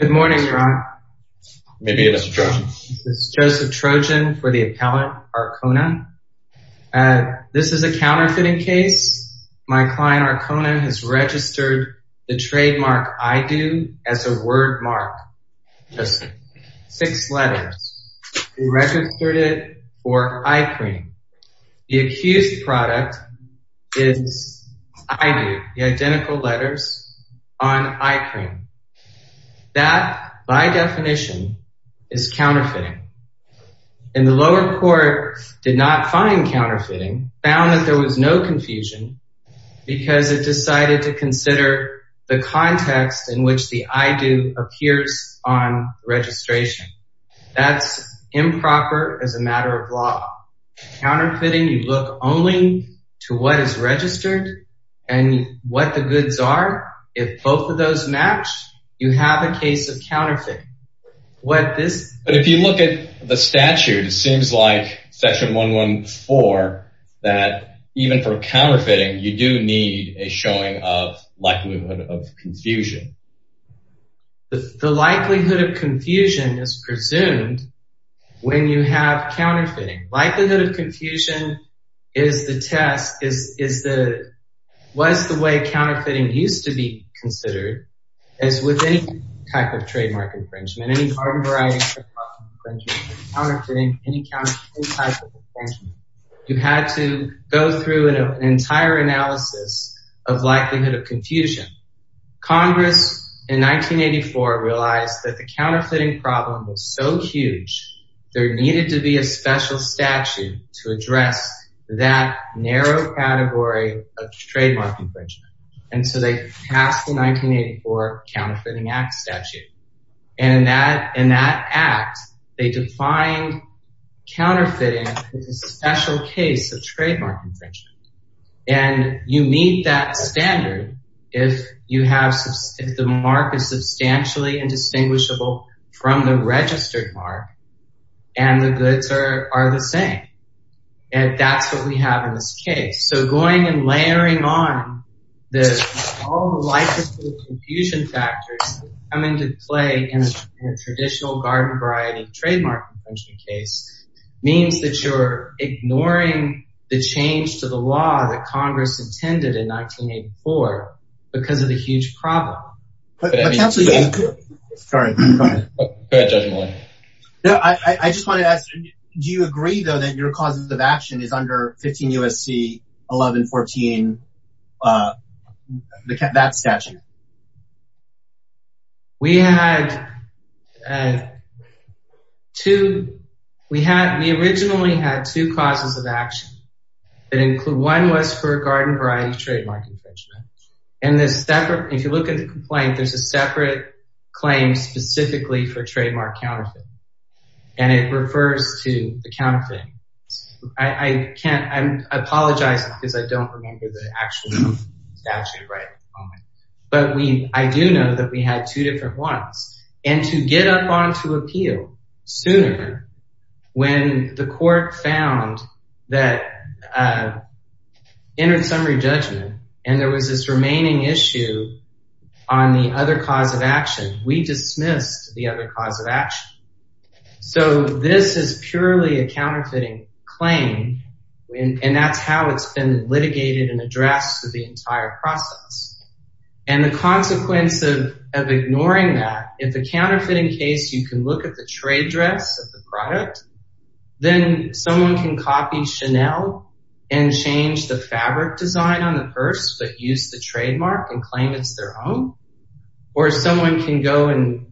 Good morning, Your Honor. May I begin, Mr. Trojan? This is Joseph Trojan for the appellant, Arcona. This is a counterfeiting case. My client, Arcona, has registered the trademark, I Do, as a word mark. Just six letters. He registered it for eye cream. The accused product is I Do, the identical letters on eye cream. That, by definition, is counterfeiting. And the lower court did not find counterfeiting, found that there was no confusion, because it decided to consider the context in which the I Do appears on registration. That's improper as a matter of law. Counterfeiting, you look only to what is registered and what the goods are. If both of those match, you have a case of counterfeiting. But if you look at the statute, it seems like Section 114 that even for counterfeiting, you do need a showing of likelihood of confusion. The likelihood of confusion is presumed when you have counterfeiting. Likelihood of confusion is the test, is the, was the way counterfeiting used to be considered as with any type of trademark infringement. Any hard and variety type of infringement, counterfeiting, any counterfeiting type of infringement. You had to go through an entire analysis of likelihood of confusion. Congress in 1984 realized that the counterfeiting problem was so huge, there needed to be a special statute to address that narrow category of trademark infringement. And so they passed the 1984 Counterfeiting Act statute. And that, in that act, they defined counterfeiting as a special case of trademark infringement. And you meet that standard if you have, if the mark is substantially indistinguishable from the registered mark, and the goods are the same. And that's what we have in this case. So going and layering on the likelihood of confusion factors coming to play in a traditional garden variety trademark infringement case means that you're ignoring the change to the law that Congress intended in 1984, because of the huge problem. Sorry, go ahead. I just wanted to ask, do you agree though, that your causes of action is under 15 U.S.C. 1114, that statute? We had two, we had, we originally had two causes of action that include, one was for garden variety trademark infringement. And this separate, if you look at the complaint, there's a separate claim specifically for trademark counterfeiting. And it refers to the counterfeiting. I can't, I apologize, because I don't remember the actual statute right at the moment. But we, I do know that we had two different ones. And to get up on to appeal sooner, when the court found that entered summary judgment, and there was this remaining issue on the other cause of action, we dismissed the other cause of action. So this is purely a counterfeiting claim. And that's how it's been litigated and addressed the entire process. And the consequence of ignoring that, if a counterfeiting case, you can look at the trade dress of the product, then someone can copy Chanel and change the fabric design on the purse, but use the trademark and claim it's their own. Or someone can go and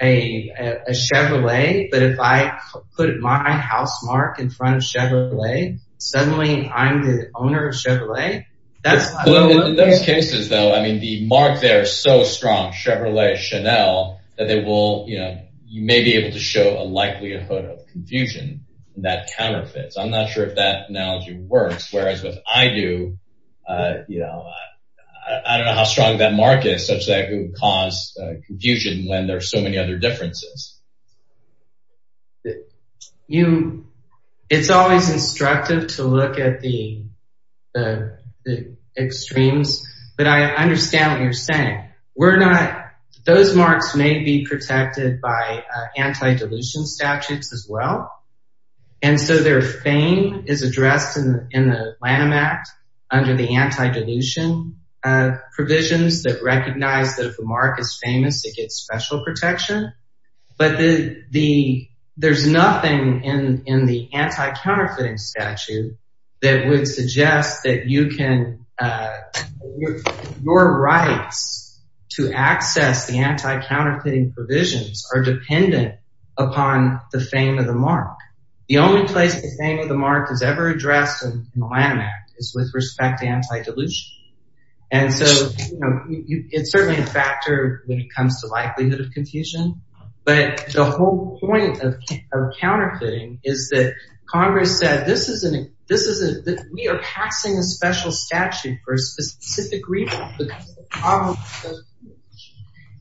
a Chevrolet, but if I put my house mark in front of Chevrolet, suddenly, I'm the owner of Chevrolet. That's those cases, though, I mean, the mark, they're so strong, Chevrolet, Chanel, that they will, you know, you may be able to show a likelihood of confusion, that counterfeits, I'm not sure if that analogy works. Whereas if I do, you know, I don't know how strong that mark is such that it would cause confusion when there's so many other differences. You, it's always instructive to look at the extremes. But I understand what you're saying. We're not those marks may be protected by anti dilution statutes as well. And so their fame is addressed in the Lanham Act, under the anti dilution provisions that recognize that if the mark is famous, it gets special protection. But the, there's nothing in the anti counterfeiting statute that would suggest that you can, your rights to access the anti counterfeiting provisions are dependent upon the fame of the mark. The only place the fame of the mark is ever addressed in the Lanham Act is with respect to anti dilution. And so, you know, it's certainly a factor when it comes to likelihood of confusion. But the whole point of counterfeiting is that Congress said this is an, this is a, we are passing a special statute for specific reason.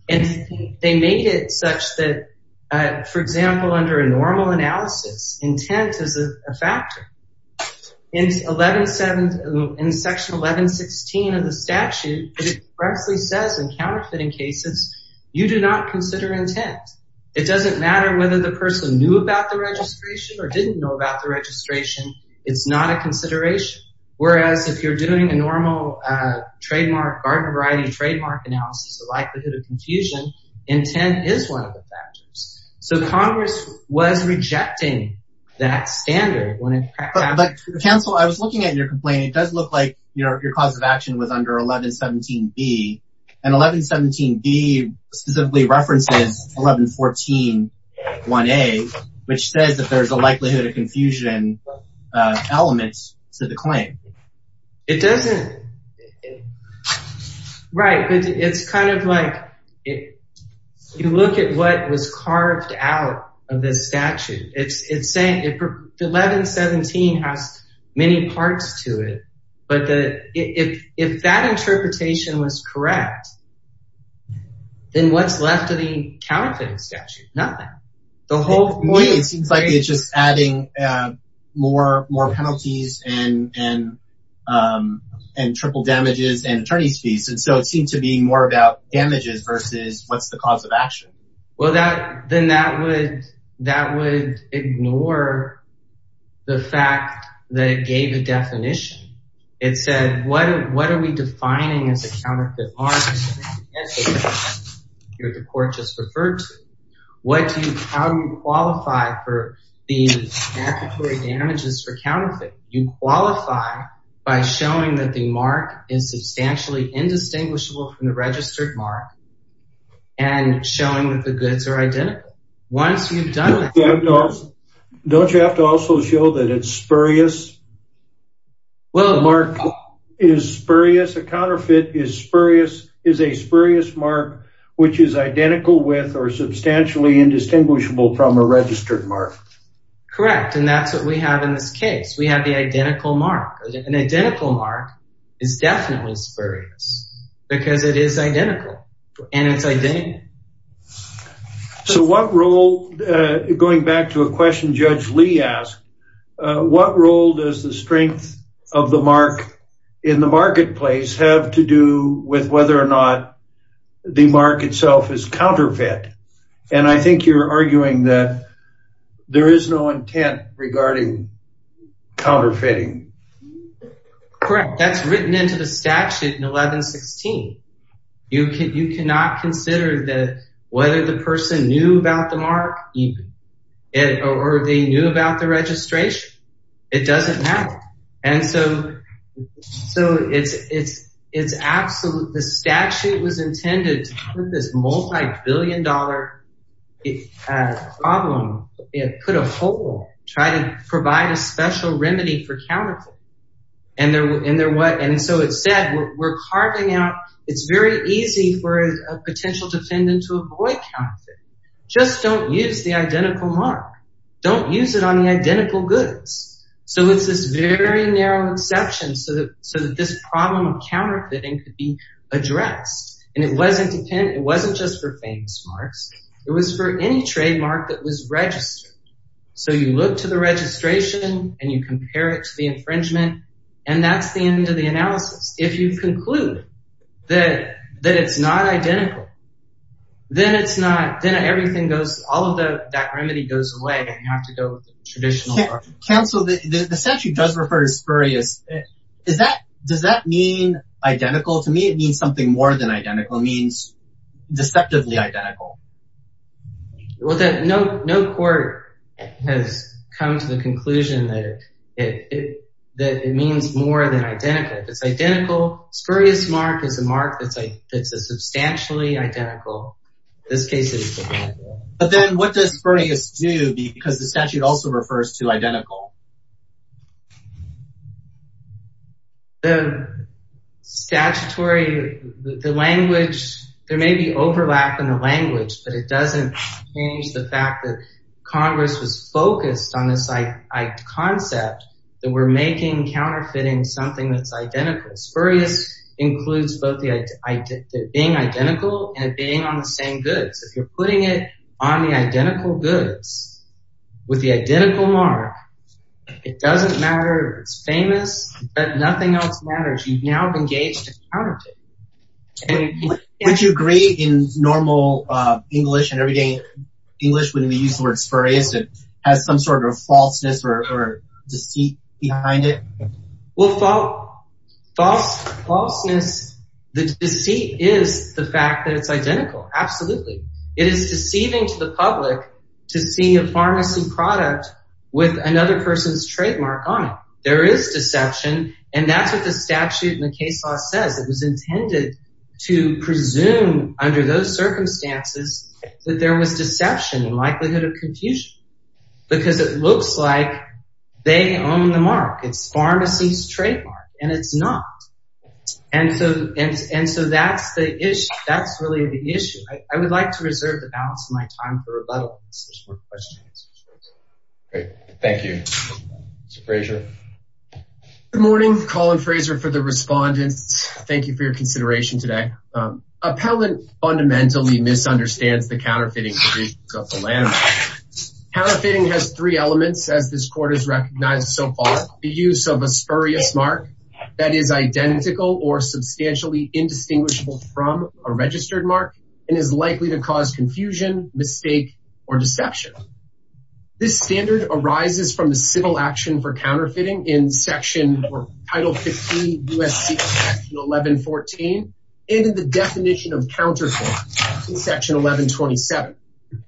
And they made it such that, for example, under a normal analysis, intent is a factor. In 11-7, in section 11-16 of the statute, it precisely says in counterfeiting cases, you do not consider intent. It doesn't matter whether the person knew about the registration or didn't know about the registration. It's not a consideration. Whereas if you're doing a normal trademark, garden variety trademark analysis, the likelihood of confusion intent is one of the factors. So Congress was rejecting that standard when it, but counsel, I was looking at your complaint. It does look like, you know, your cause of action was under 11-17B and 11-17B specifically references 11-14-1A, which says that there's a likelihood of confusion elements to the claim. It doesn't, right. But it's kind of like, if you look at what was carved out of this statute, it's saying 11-17 has many parts to it. But if that interpretation was correct, then what's left of the counterfeiting statute? Nothing. The whole point. It seems like it's just adding more penalties and triple damages and attorney's fees. And so it seemed to be more about damages versus what's the cause of action. Well, then that would ignore the fact that it gave a definition. It said, what are we defining as a counterfeit market? You're the court just referred to. How do you qualify for the damages for counterfeit? You qualify by showing that the mark is substantially indistinguishable from the registered mark and showing that the goods are identical. Don't you have to also show that it's is a spurious mark, which is identical with or substantially indistinguishable from a registered mark? Correct. And that's what we have in this case. We have the identical mark. An identical mark is definitely spurious because it is identical and it's identical. So what role, going back to a question Judge Lee asked, what role does the strength of the mark in the whether or not the mark itself is counterfeit? And I think you're arguing that there is no intent regarding counterfeiting. Correct. That's written into the statute in 1116. You cannot consider that whether the person knew about the mark or they knew about the registration. It doesn't matter. And so it's absolute, the statute was intended to put this multi-billion problem, put a hole, try to provide a special remedy for counterfeiting. And so it said, we're carving out, it's very easy for a potential defendant to avoid counterfeiting. Just don't use the identical mark. Don't use it on the identical goods. So it's this very narrow exception so that this problem of counterfeiting could be addressed. And it wasn't just for famous marks. It was for any trademark that was registered. So you look to the registration and you compare it to the infringement. And that's the end of the analysis. If you conclude that it's not identical, then it's not, then everything goes, all of that remedy goes away. And you have to go with the traditional mark. Counsel, the statute does refer to spurious. Is that, does that mean identical? To me, it means something more than identical. It means deceptively identical. No court has come to the conclusion that it means more than identical. It's identical. Spurious mark is a mark that's a substantially identical. But then what does spurious do because the statute also refers to identical? The statutory, the language, there may be overlap in the language, but it doesn't change the fact that Congress was focused on this concept that we're making counterfeiting something that's identical. Spurious includes both being identical and being on the same goods. If you're putting it on the identical goods with the identical mark, it doesn't matter if it's famous, but nothing else matters. You've now engaged in counterfeiting. Would you agree in normal English and everyday English, when we use the word spurious, has some sort of falseness or deceit behind it? Well, falseness, the deceit is the fact that it's identical. Absolutely. It is deceiving to the public to see a pharmacy product with another person's trademark on it. There is deception. And that's what the statute in the case law says. It was intended to presume under those because it looks like they own the mark. It's pharmacy's trademark and it's not. And so, and so that's the issue. That's really the issue. I would like to reserve the balance of my time for rebuttal. Great. Thank you. Mr. Fraser. Good morning, Colin Fraser for the respondents. Thank you for your consideration today. Appellant fundamentally misunderstands the counterfeiting. Counterfeiting has three elements as this court has recognized so far, the use of a spurious mark that is identical or substantially indistinguishable from a registered mark and is likely to cause confusion, mistake, or deception. This standard arises from the civil action for counterfeiting in section or title 50 USC 1114. And in the definition of counterfeit in section 1127,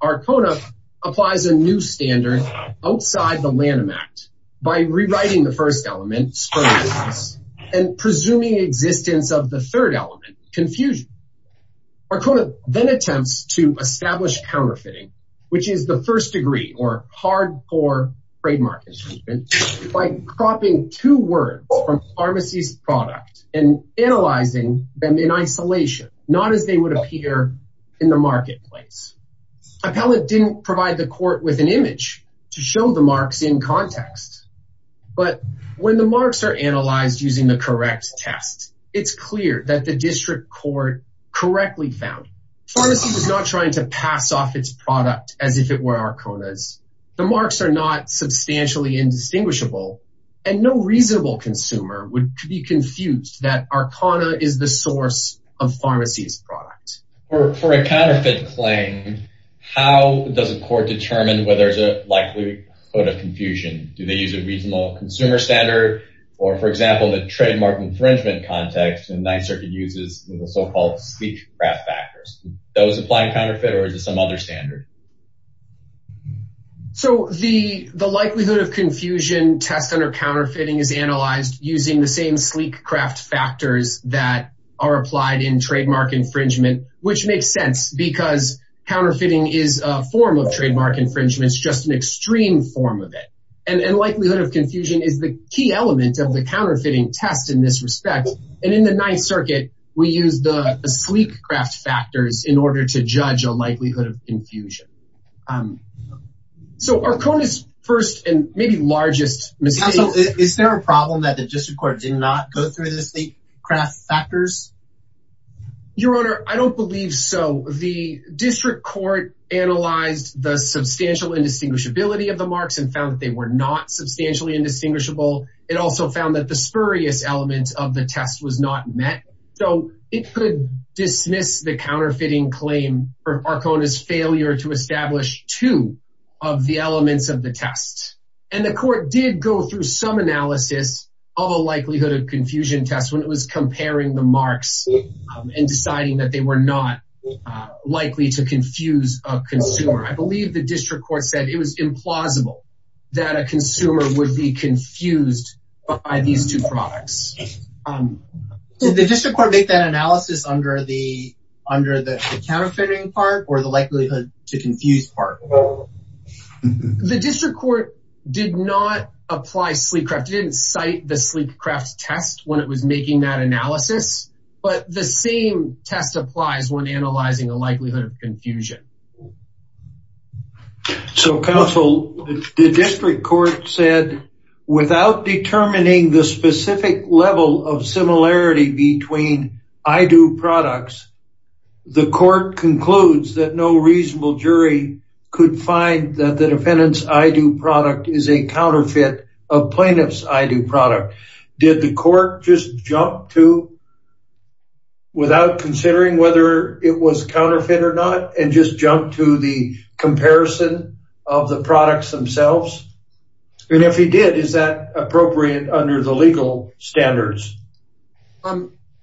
Arcona applies a new standard outside the Lanham Act by rewriting the first element spuriousness and presuming existence of the third element confusion. Arcona then attempts to establish counterfeiting, which is the first degree or hard core trademark infringement by cropping two words from pharmacy's product and analyzing them in isolation, not as they would appear in the marketplace. Appellant didn't provide the court with an image to show the marks in context, but when the marks are analyzed using the correct test, it's clear that the district court correctly found pharmacy was not trying to pass off its The marks are not substantially indistinguishable and no reasonable consumer would be confused that Arcona is the source of pharmacy's product. For a counterfeit claim, how does a court determine whether there's a likelihood of confusion? Do they use a reasonable consumer standard or, for example, the trademark infringement context and Ninth Circuit uses the so-called speech craft factors? Does applying counterfeit or is it some other standard? So the likelihood of confusion test under counterfeiting is analyzed using the same sleek craft factors that are applied in trademark infringement, which makes sense because counterfeiting is a form of trademark infringements, just an extreme form of it. And likelihood of confusion is the key element of the counterfeiting test in this respect. And in the Ninth Circuit, we use the sleek craft factors in order to judge a likelihood of confusion. So Arcona's first and maybe largest mistake. Is there a problem that the district court did not go through the sleek craft factors? Your Honor, I don't believe so. The district court analyzed the substantial indistinguishability of the marks and found that they were not met. So it could dismiss the counterfeiting claim for Arcona's failure to establish two of the elements of the test. And the court did go through some analysis of a likelihood of confusion test when it was comparing the marks and deciding that they were not likely to confuse a consumer. I believe the district court said it was implausible that a consumer would be confused by these two products. Did the district court make that analysis under the counterfeiting part or the likelihood to confuse part? The district court did not apply sleek craft. It didn't cite the sleek craft test when it was making that analysis, but the same test applies when analyzing the likelihood of confusion. Okay. So counsel, the district court said without determining the specific level of similarity between I do products, the court concludes that no reasonable jury could find that the defendant's I do product is a counterfeit of plaintiff's I do product. Did the court just jump to without considering whether it was counterfeit or not and just jump to the comparison of the products themselves? And if he did, is that appropriate under the legal standards?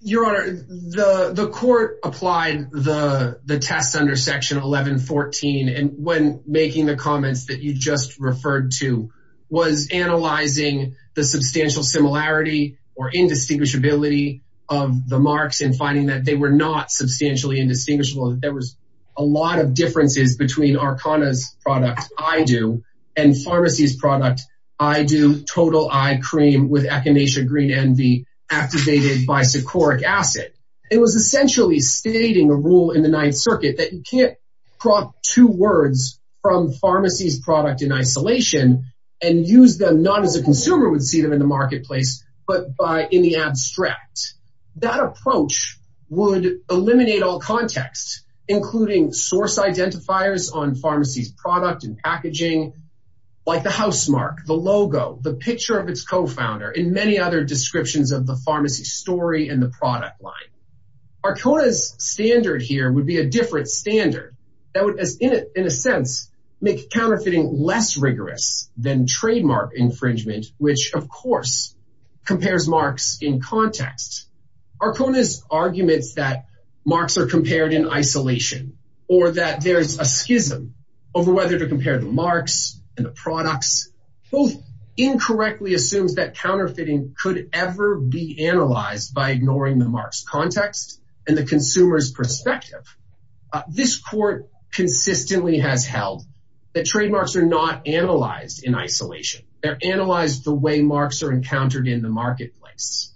Your Honor, the court applied the test under section 1114 and when making the comments that you just referred to was analyzing the substantial similarity or indistinguishability of the marks and finding that they were not substantially indistinguishable. There was a lot of differences between Arcona's product I do and pharmacy's product I do total eye cream with echinacea green envy activated by sucoric acid. It was essentially stating a rule in the in isolation and use them not as a consumer would see them in the marketplace, but by in the abstract, that approach would eliminate all context, including source identifiers on pharmacy's product and packaging, like the housemark, the logo, the picture of its co-founder and many other descriptions of the pharmacy story and the product line. Arcona's standard here would be a standard that would, in a sense, make counterfeiting less rigorous than trademark infringement, which of course compares marks in context. Arcona's arguments that marks are compared in isolation or that there's a schism over whether to compare the marks and the products both incorrectly assumes that counterfeiting could ever be analyzed by ignoring the mark's context and the consumer's perspective. This court consistently has held that trademarks are not analyzed in isolation. They're analyzed the way marks are encountered in the marketplace.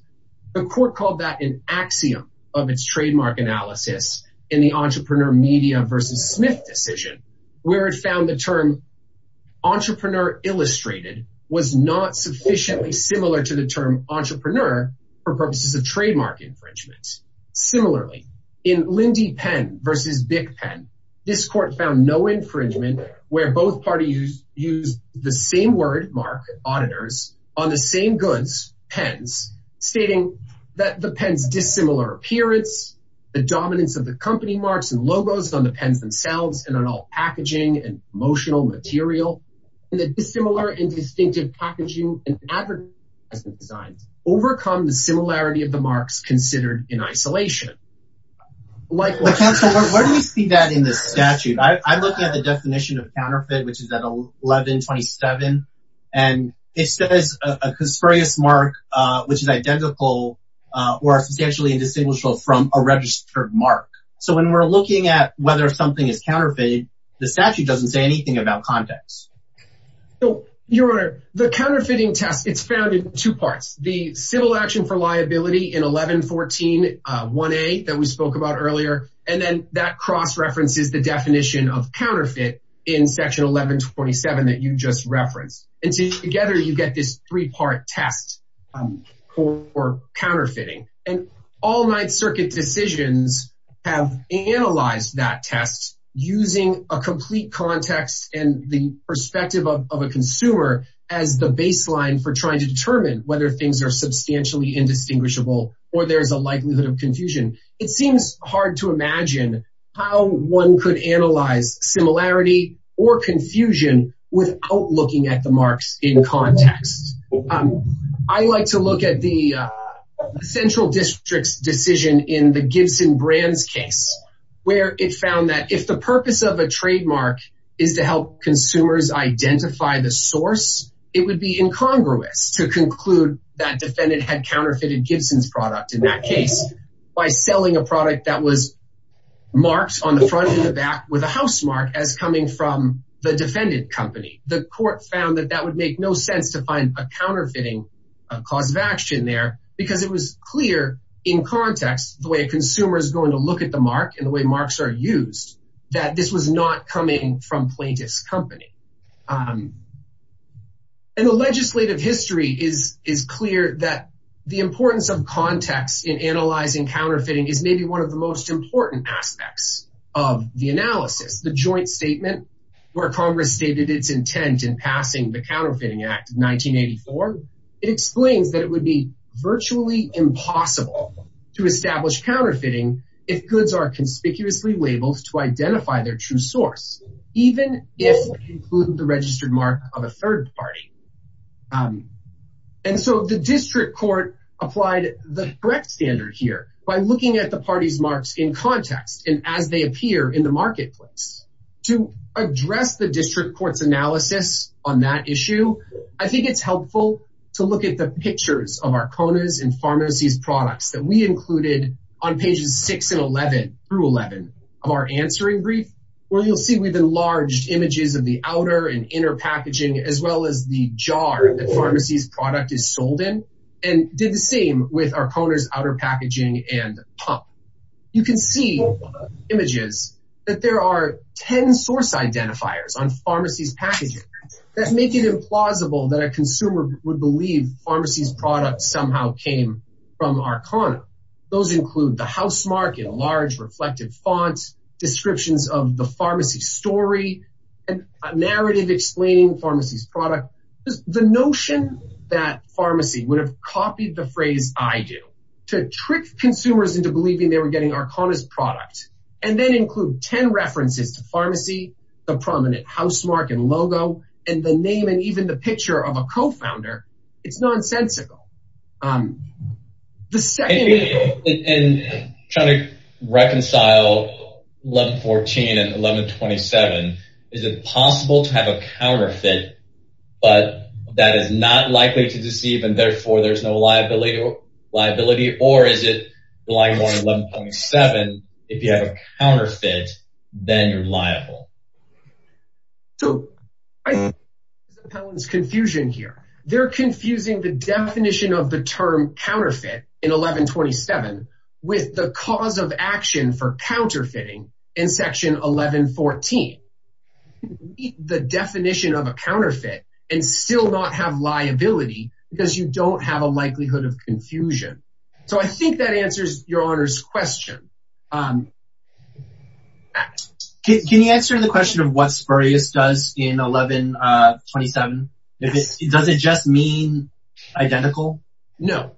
The court called that an axiom of its trademark analysis in the entrepreneur media versus Smith decision, where it found the term entrepreneur illustrated was not sufficiently similar to the similarly in Lindy pen versus BIC pen. This court found no infringement where both parties use the same word mark auditors on the same goods pens stating that the pens dissimilar appearance, the dominance of the company marks and logos on the pens themselves and on all packaging and promotional material and the dissimilar and distinctive packaging and advertising has been like, where do we see that in the statute? I'm looking at the definition of counterfeit, which is at 1127 and it says a conspiracy mark, which is identical or substantially indistinguishable from a registered mark. So when we're looking at whether something is counterfeited, the statute doesn't say anything about context. So you're the counterfeiting test. It's found in two parts. The civil action for liability in 1114 one eight that we spoke about earlier. And then that cross references the definition of counterfeit in section 1127 that you just referenced. And together you get this three part test for counterfeiting and all night circuit decisions have analyzed that test using a complete context and the perspective of a consumer as the baseline for trying to determine whether things are substantially indistinguishable or there's a likelihood of confusion. It seems hard to imagine how one could analyze similarity or confusion without looking at the marks in context. I like to look at the central district's decision in the Gibson Brands case, where it found that if the purpose of a trademark is to help consumers identify the source, it would be incongruous to conclude that defendant had counterfeited Gibson's product in that case by selling a product that was marked on the front and the back with a housemark as coming from the defendant company. The court found that that would make no sense to find a counterfeiting cause of action there because it was clear in context the way consumers going to look at the mark and the way marks are used, that this was not coming from plaintiff's company. The legislative history is clear that the importance of context in analyzing counterfeiting is maybe one of the most important aspects of the analysis. The joint statement where Congress stated its intent in passing the Counterfeiting Act of 1984, it explains that it would be virtually impossible to establish counterfeiting if goods are conspicuously labeled to identify their true source, even if it included the registered mark of a third party. And so the district court applied the correct standard here by looking at the party's marks in context and as they appear in the marketplace. To address the district court's analysis on that issue, I think it's helpful to look at the pictures of our Kona's and Pharmacy's products that we included on pages 6 and 11 of our answering brief, where you'll see we've enlarged images of the outer and inner packaging as well as the jar that Pharmacy's product is sold in and did the same with our Kona's outer packaging and pump. You can see images that there are 10 source identifiers on Pharmacy's packaging that make it implausible that a consumer would believe Pharmacy's product somehow came from our Kona. Those include the housemark in a large reflective font, descriptions of the pharmacy story, and a narrative explaining Pharmacy's product. The notion that Pharmacy would have copied the phrase I do to trick consumers into believing they were getting our Kona's product and then include 10 references to Pharmacy, the prominent housemark and logo, and the name and picture of a co-founder is nonsensical. Is it possible to have a counterfeit but that is not likely to deceive and therefore there's no liability or is it like 11.7 if you have a counterfeit then you're liable? So I think there's confusion here. They're confusing the definition of the term counterfeit in 11.27 with the cause of action for counterfeiting in section 11.14. The definition of a counterfeit and still not have liability because you don't have a likelihood of confusion. So I think that answers your honor's question. Can you answer the question of what spurious does in 11.27? Does it just mean identical? No,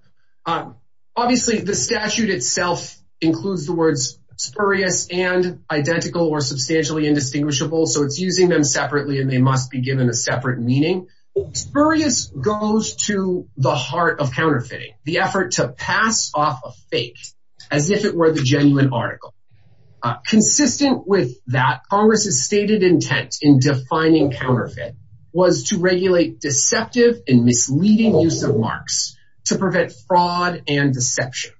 obviously the statute itself includes the words spurious and identical or substantially indistinguishable so it's using them separately and they must be given a separate meaning. Spurious goes to the heart of counterfeiting the effort to pass off a fake as if it were the genuine article. Consistent with that Congress's stated intent in defining counterfeit was to regulate deceptive and misleading use of marks to prevent fraud and deception.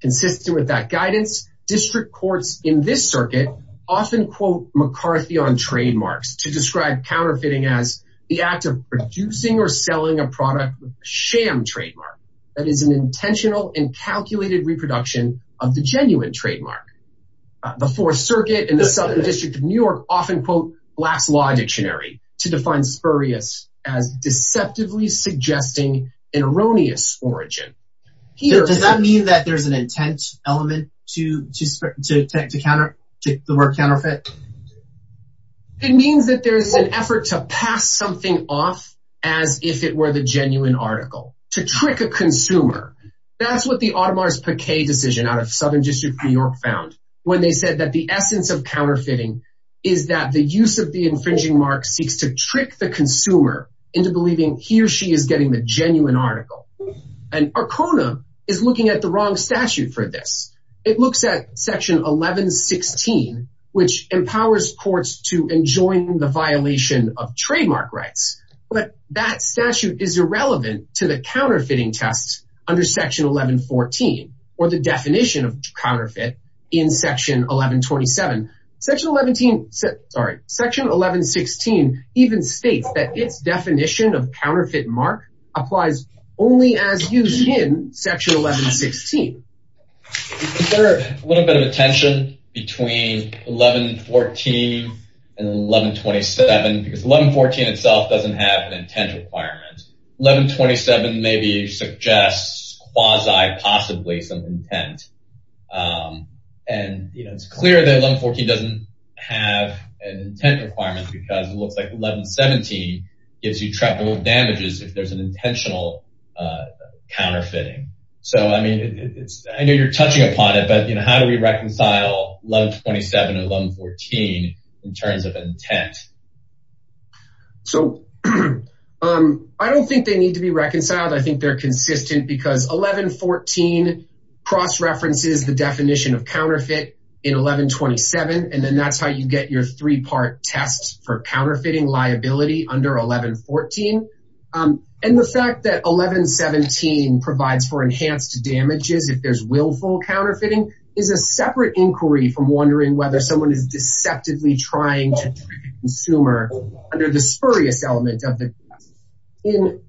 Consistent with that guidance district courts in this circuit often quote McCarthy on trademarks to describe counterfeiting as the act of producing or selling a product with a sham trademark that is an intentional and calculated reproduction of the genuine trademark. The fourth circuit in the Southern District of New York often quote Black's Law Dictionary to define spurious as deceptively suggesting an erroneous origin. Does that mean that there's an intent element to the word counterfeit? It means that there's an effort to pass something off as if it were the genuine article to trick a consumer. That's what the Audemars Piguet decision out of Southern District of New York found when they said that the essence of counterfeiting is that the use of the infringing mark seeks to trick the consumer into believing he or she is getting the genuine article. And Arcona is looking at the wrong statute for this. It looks at section 1116 which empowers courts to enjoin the violation of trademark rights but that statute is irrelevant to the counterfeiting tests under section 1114 or the definition of counterfeit in section 1127. Section 1116 even states that its definition of counterfeit mark applies only as used in section 1116. Is there a little bit of a tension between 1114 and 1127 because 1114 itself doesn't have an intent requirement. 1127 maybe suggests quasi possibly some intent and you know it's doesn't have an intent requirement because it looks like 1117 gives you triple damages if there's an intentional counterfeiting. So I mean it's I know you're touching upon it but you know how do we reconcile 1127 and 1114 in terms of intent? So I don't think they need to be reconciled. I think they're consistent because 1114 cross references the definition of counterfeit in 1127 and then that's how you get your three-part test for counterfeiting liability under 1114. And the fact that 1117 provides for enhanced damages if there's willful counterfeiting is a separate inquiry from wondering whether someone is deceptively trying to consumer under the spurious element of the in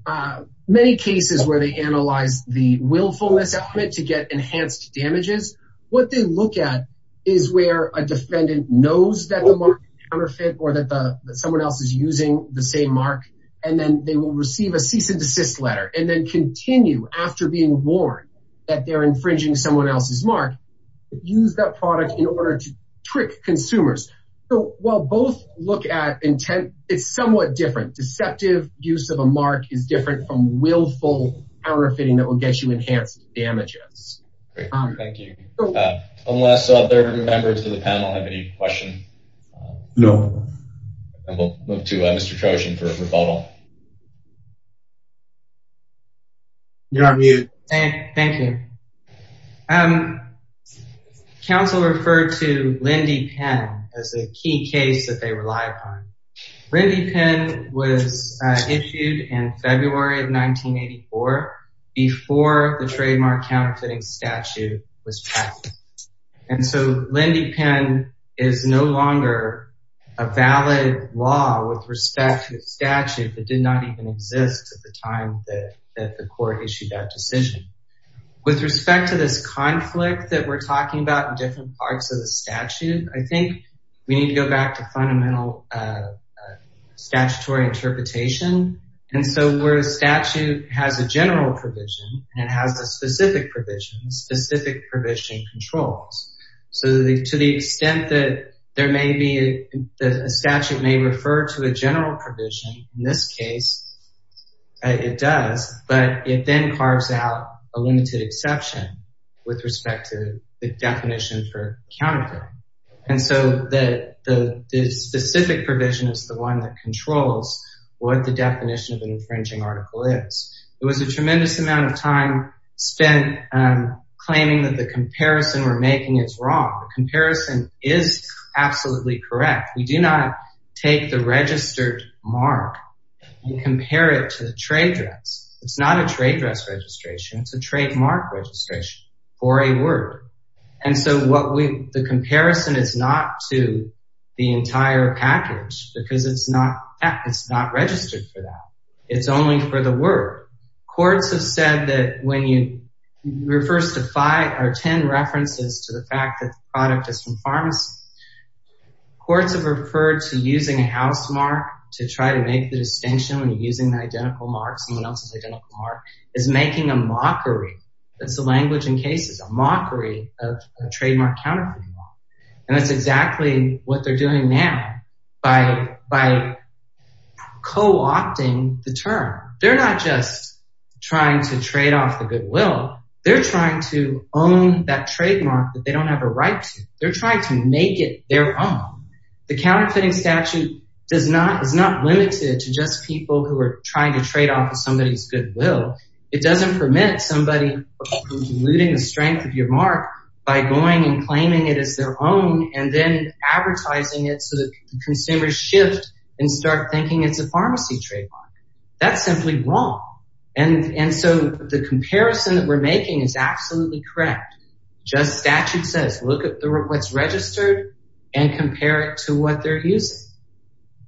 many cases where they analyze the willfulness to get enhanced damages. What they look at is where a defendant knows that the market counterfeit or that the someone else is using the same mark and then they will receive a cease and desist letter and then continue after being warned that they're infringing someone else's mark use that product in order to trick consumers. So while both look at intent it's somewhat different deceptive use of a mark is different from willful counterfeiting that will get you enhanced damages. Thank you. Unless other members of the panel have any questions? No. We'll move to Mr. Trojan for a rebuttal. You're on mute. Thank you. Council referred to Lindy Penn as a key case that they rely upon. Lindy Penn was issued in February of 1984 before the trademark counterfeiting statute was passed. And so Lindy Penn is no longer a valid law with respect to the statute that did not even exist at the time that the court issued that decision. With respect to this conflict that we're talking about different parts of the statute I think we need to go back to fundamental statutory interpretation. And so where a statute has a general provision and has a specific provision specific provision controls. So to the extent that there may be a statute may refer to a general provision in this case it does but it then carves out a limited exception with respect to the definition for counterfeiting. And so the specific provision is the one that controls what the definition of an infringing article is. It was a tremendous amount of time spent claiming that the comparison we're making is wrong. The comparison is absolutely correct. We do not take the registered mark and compare it to the trade dress. It's not a trade dress registration. It's a trademark registration for a word. And so what we the comparison is not to the entire package because it's not it's not registered for that. It's only for the word. Courts have said that when you refers to five or ten references to the fact that the product is from pharmacy. Courts have referred to using a house mark to try to make the distinction when you're using the identical mark someone else's identical mark is making a mockery that's the language in cases a mockery of a trademark counterfeiting law. And that's exactly what they're doing now by by co-opting the term. They're not just trying to trade off the goodwill. They're trying to own that trademark that they don't have a right to. They're trying to make it their own. The counterfeiting statute does not is not limited to just people who are trying to trade off somebody's goodwill. It doesn't permit somebody who's eluding the strength of your mark by going and claiming it as their own and then advertising it so that consumers shift and start thinking it's a pharmacy trademark. That's simply wrong. And so the comparison that we're making is absolutely correct. Just statute says look at what's registered and compare it to what they're using.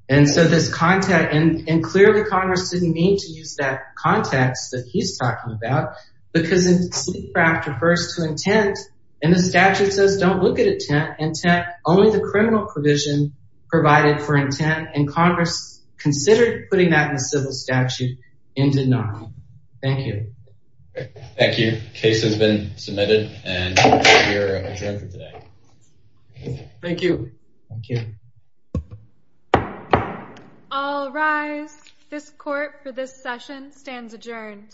And so this contact and clearly Congress didn't mean to use that context that he's talking about because it's after first to intent and the statute says don't look at intent only the criminal provision provided for intent and Congress considered putting that in the civil statute in denial. Thank you. Thank you. Case has been submitted and you're adjourned for today. Thank you. Thank you. All rise. This court for this session stands adjourned.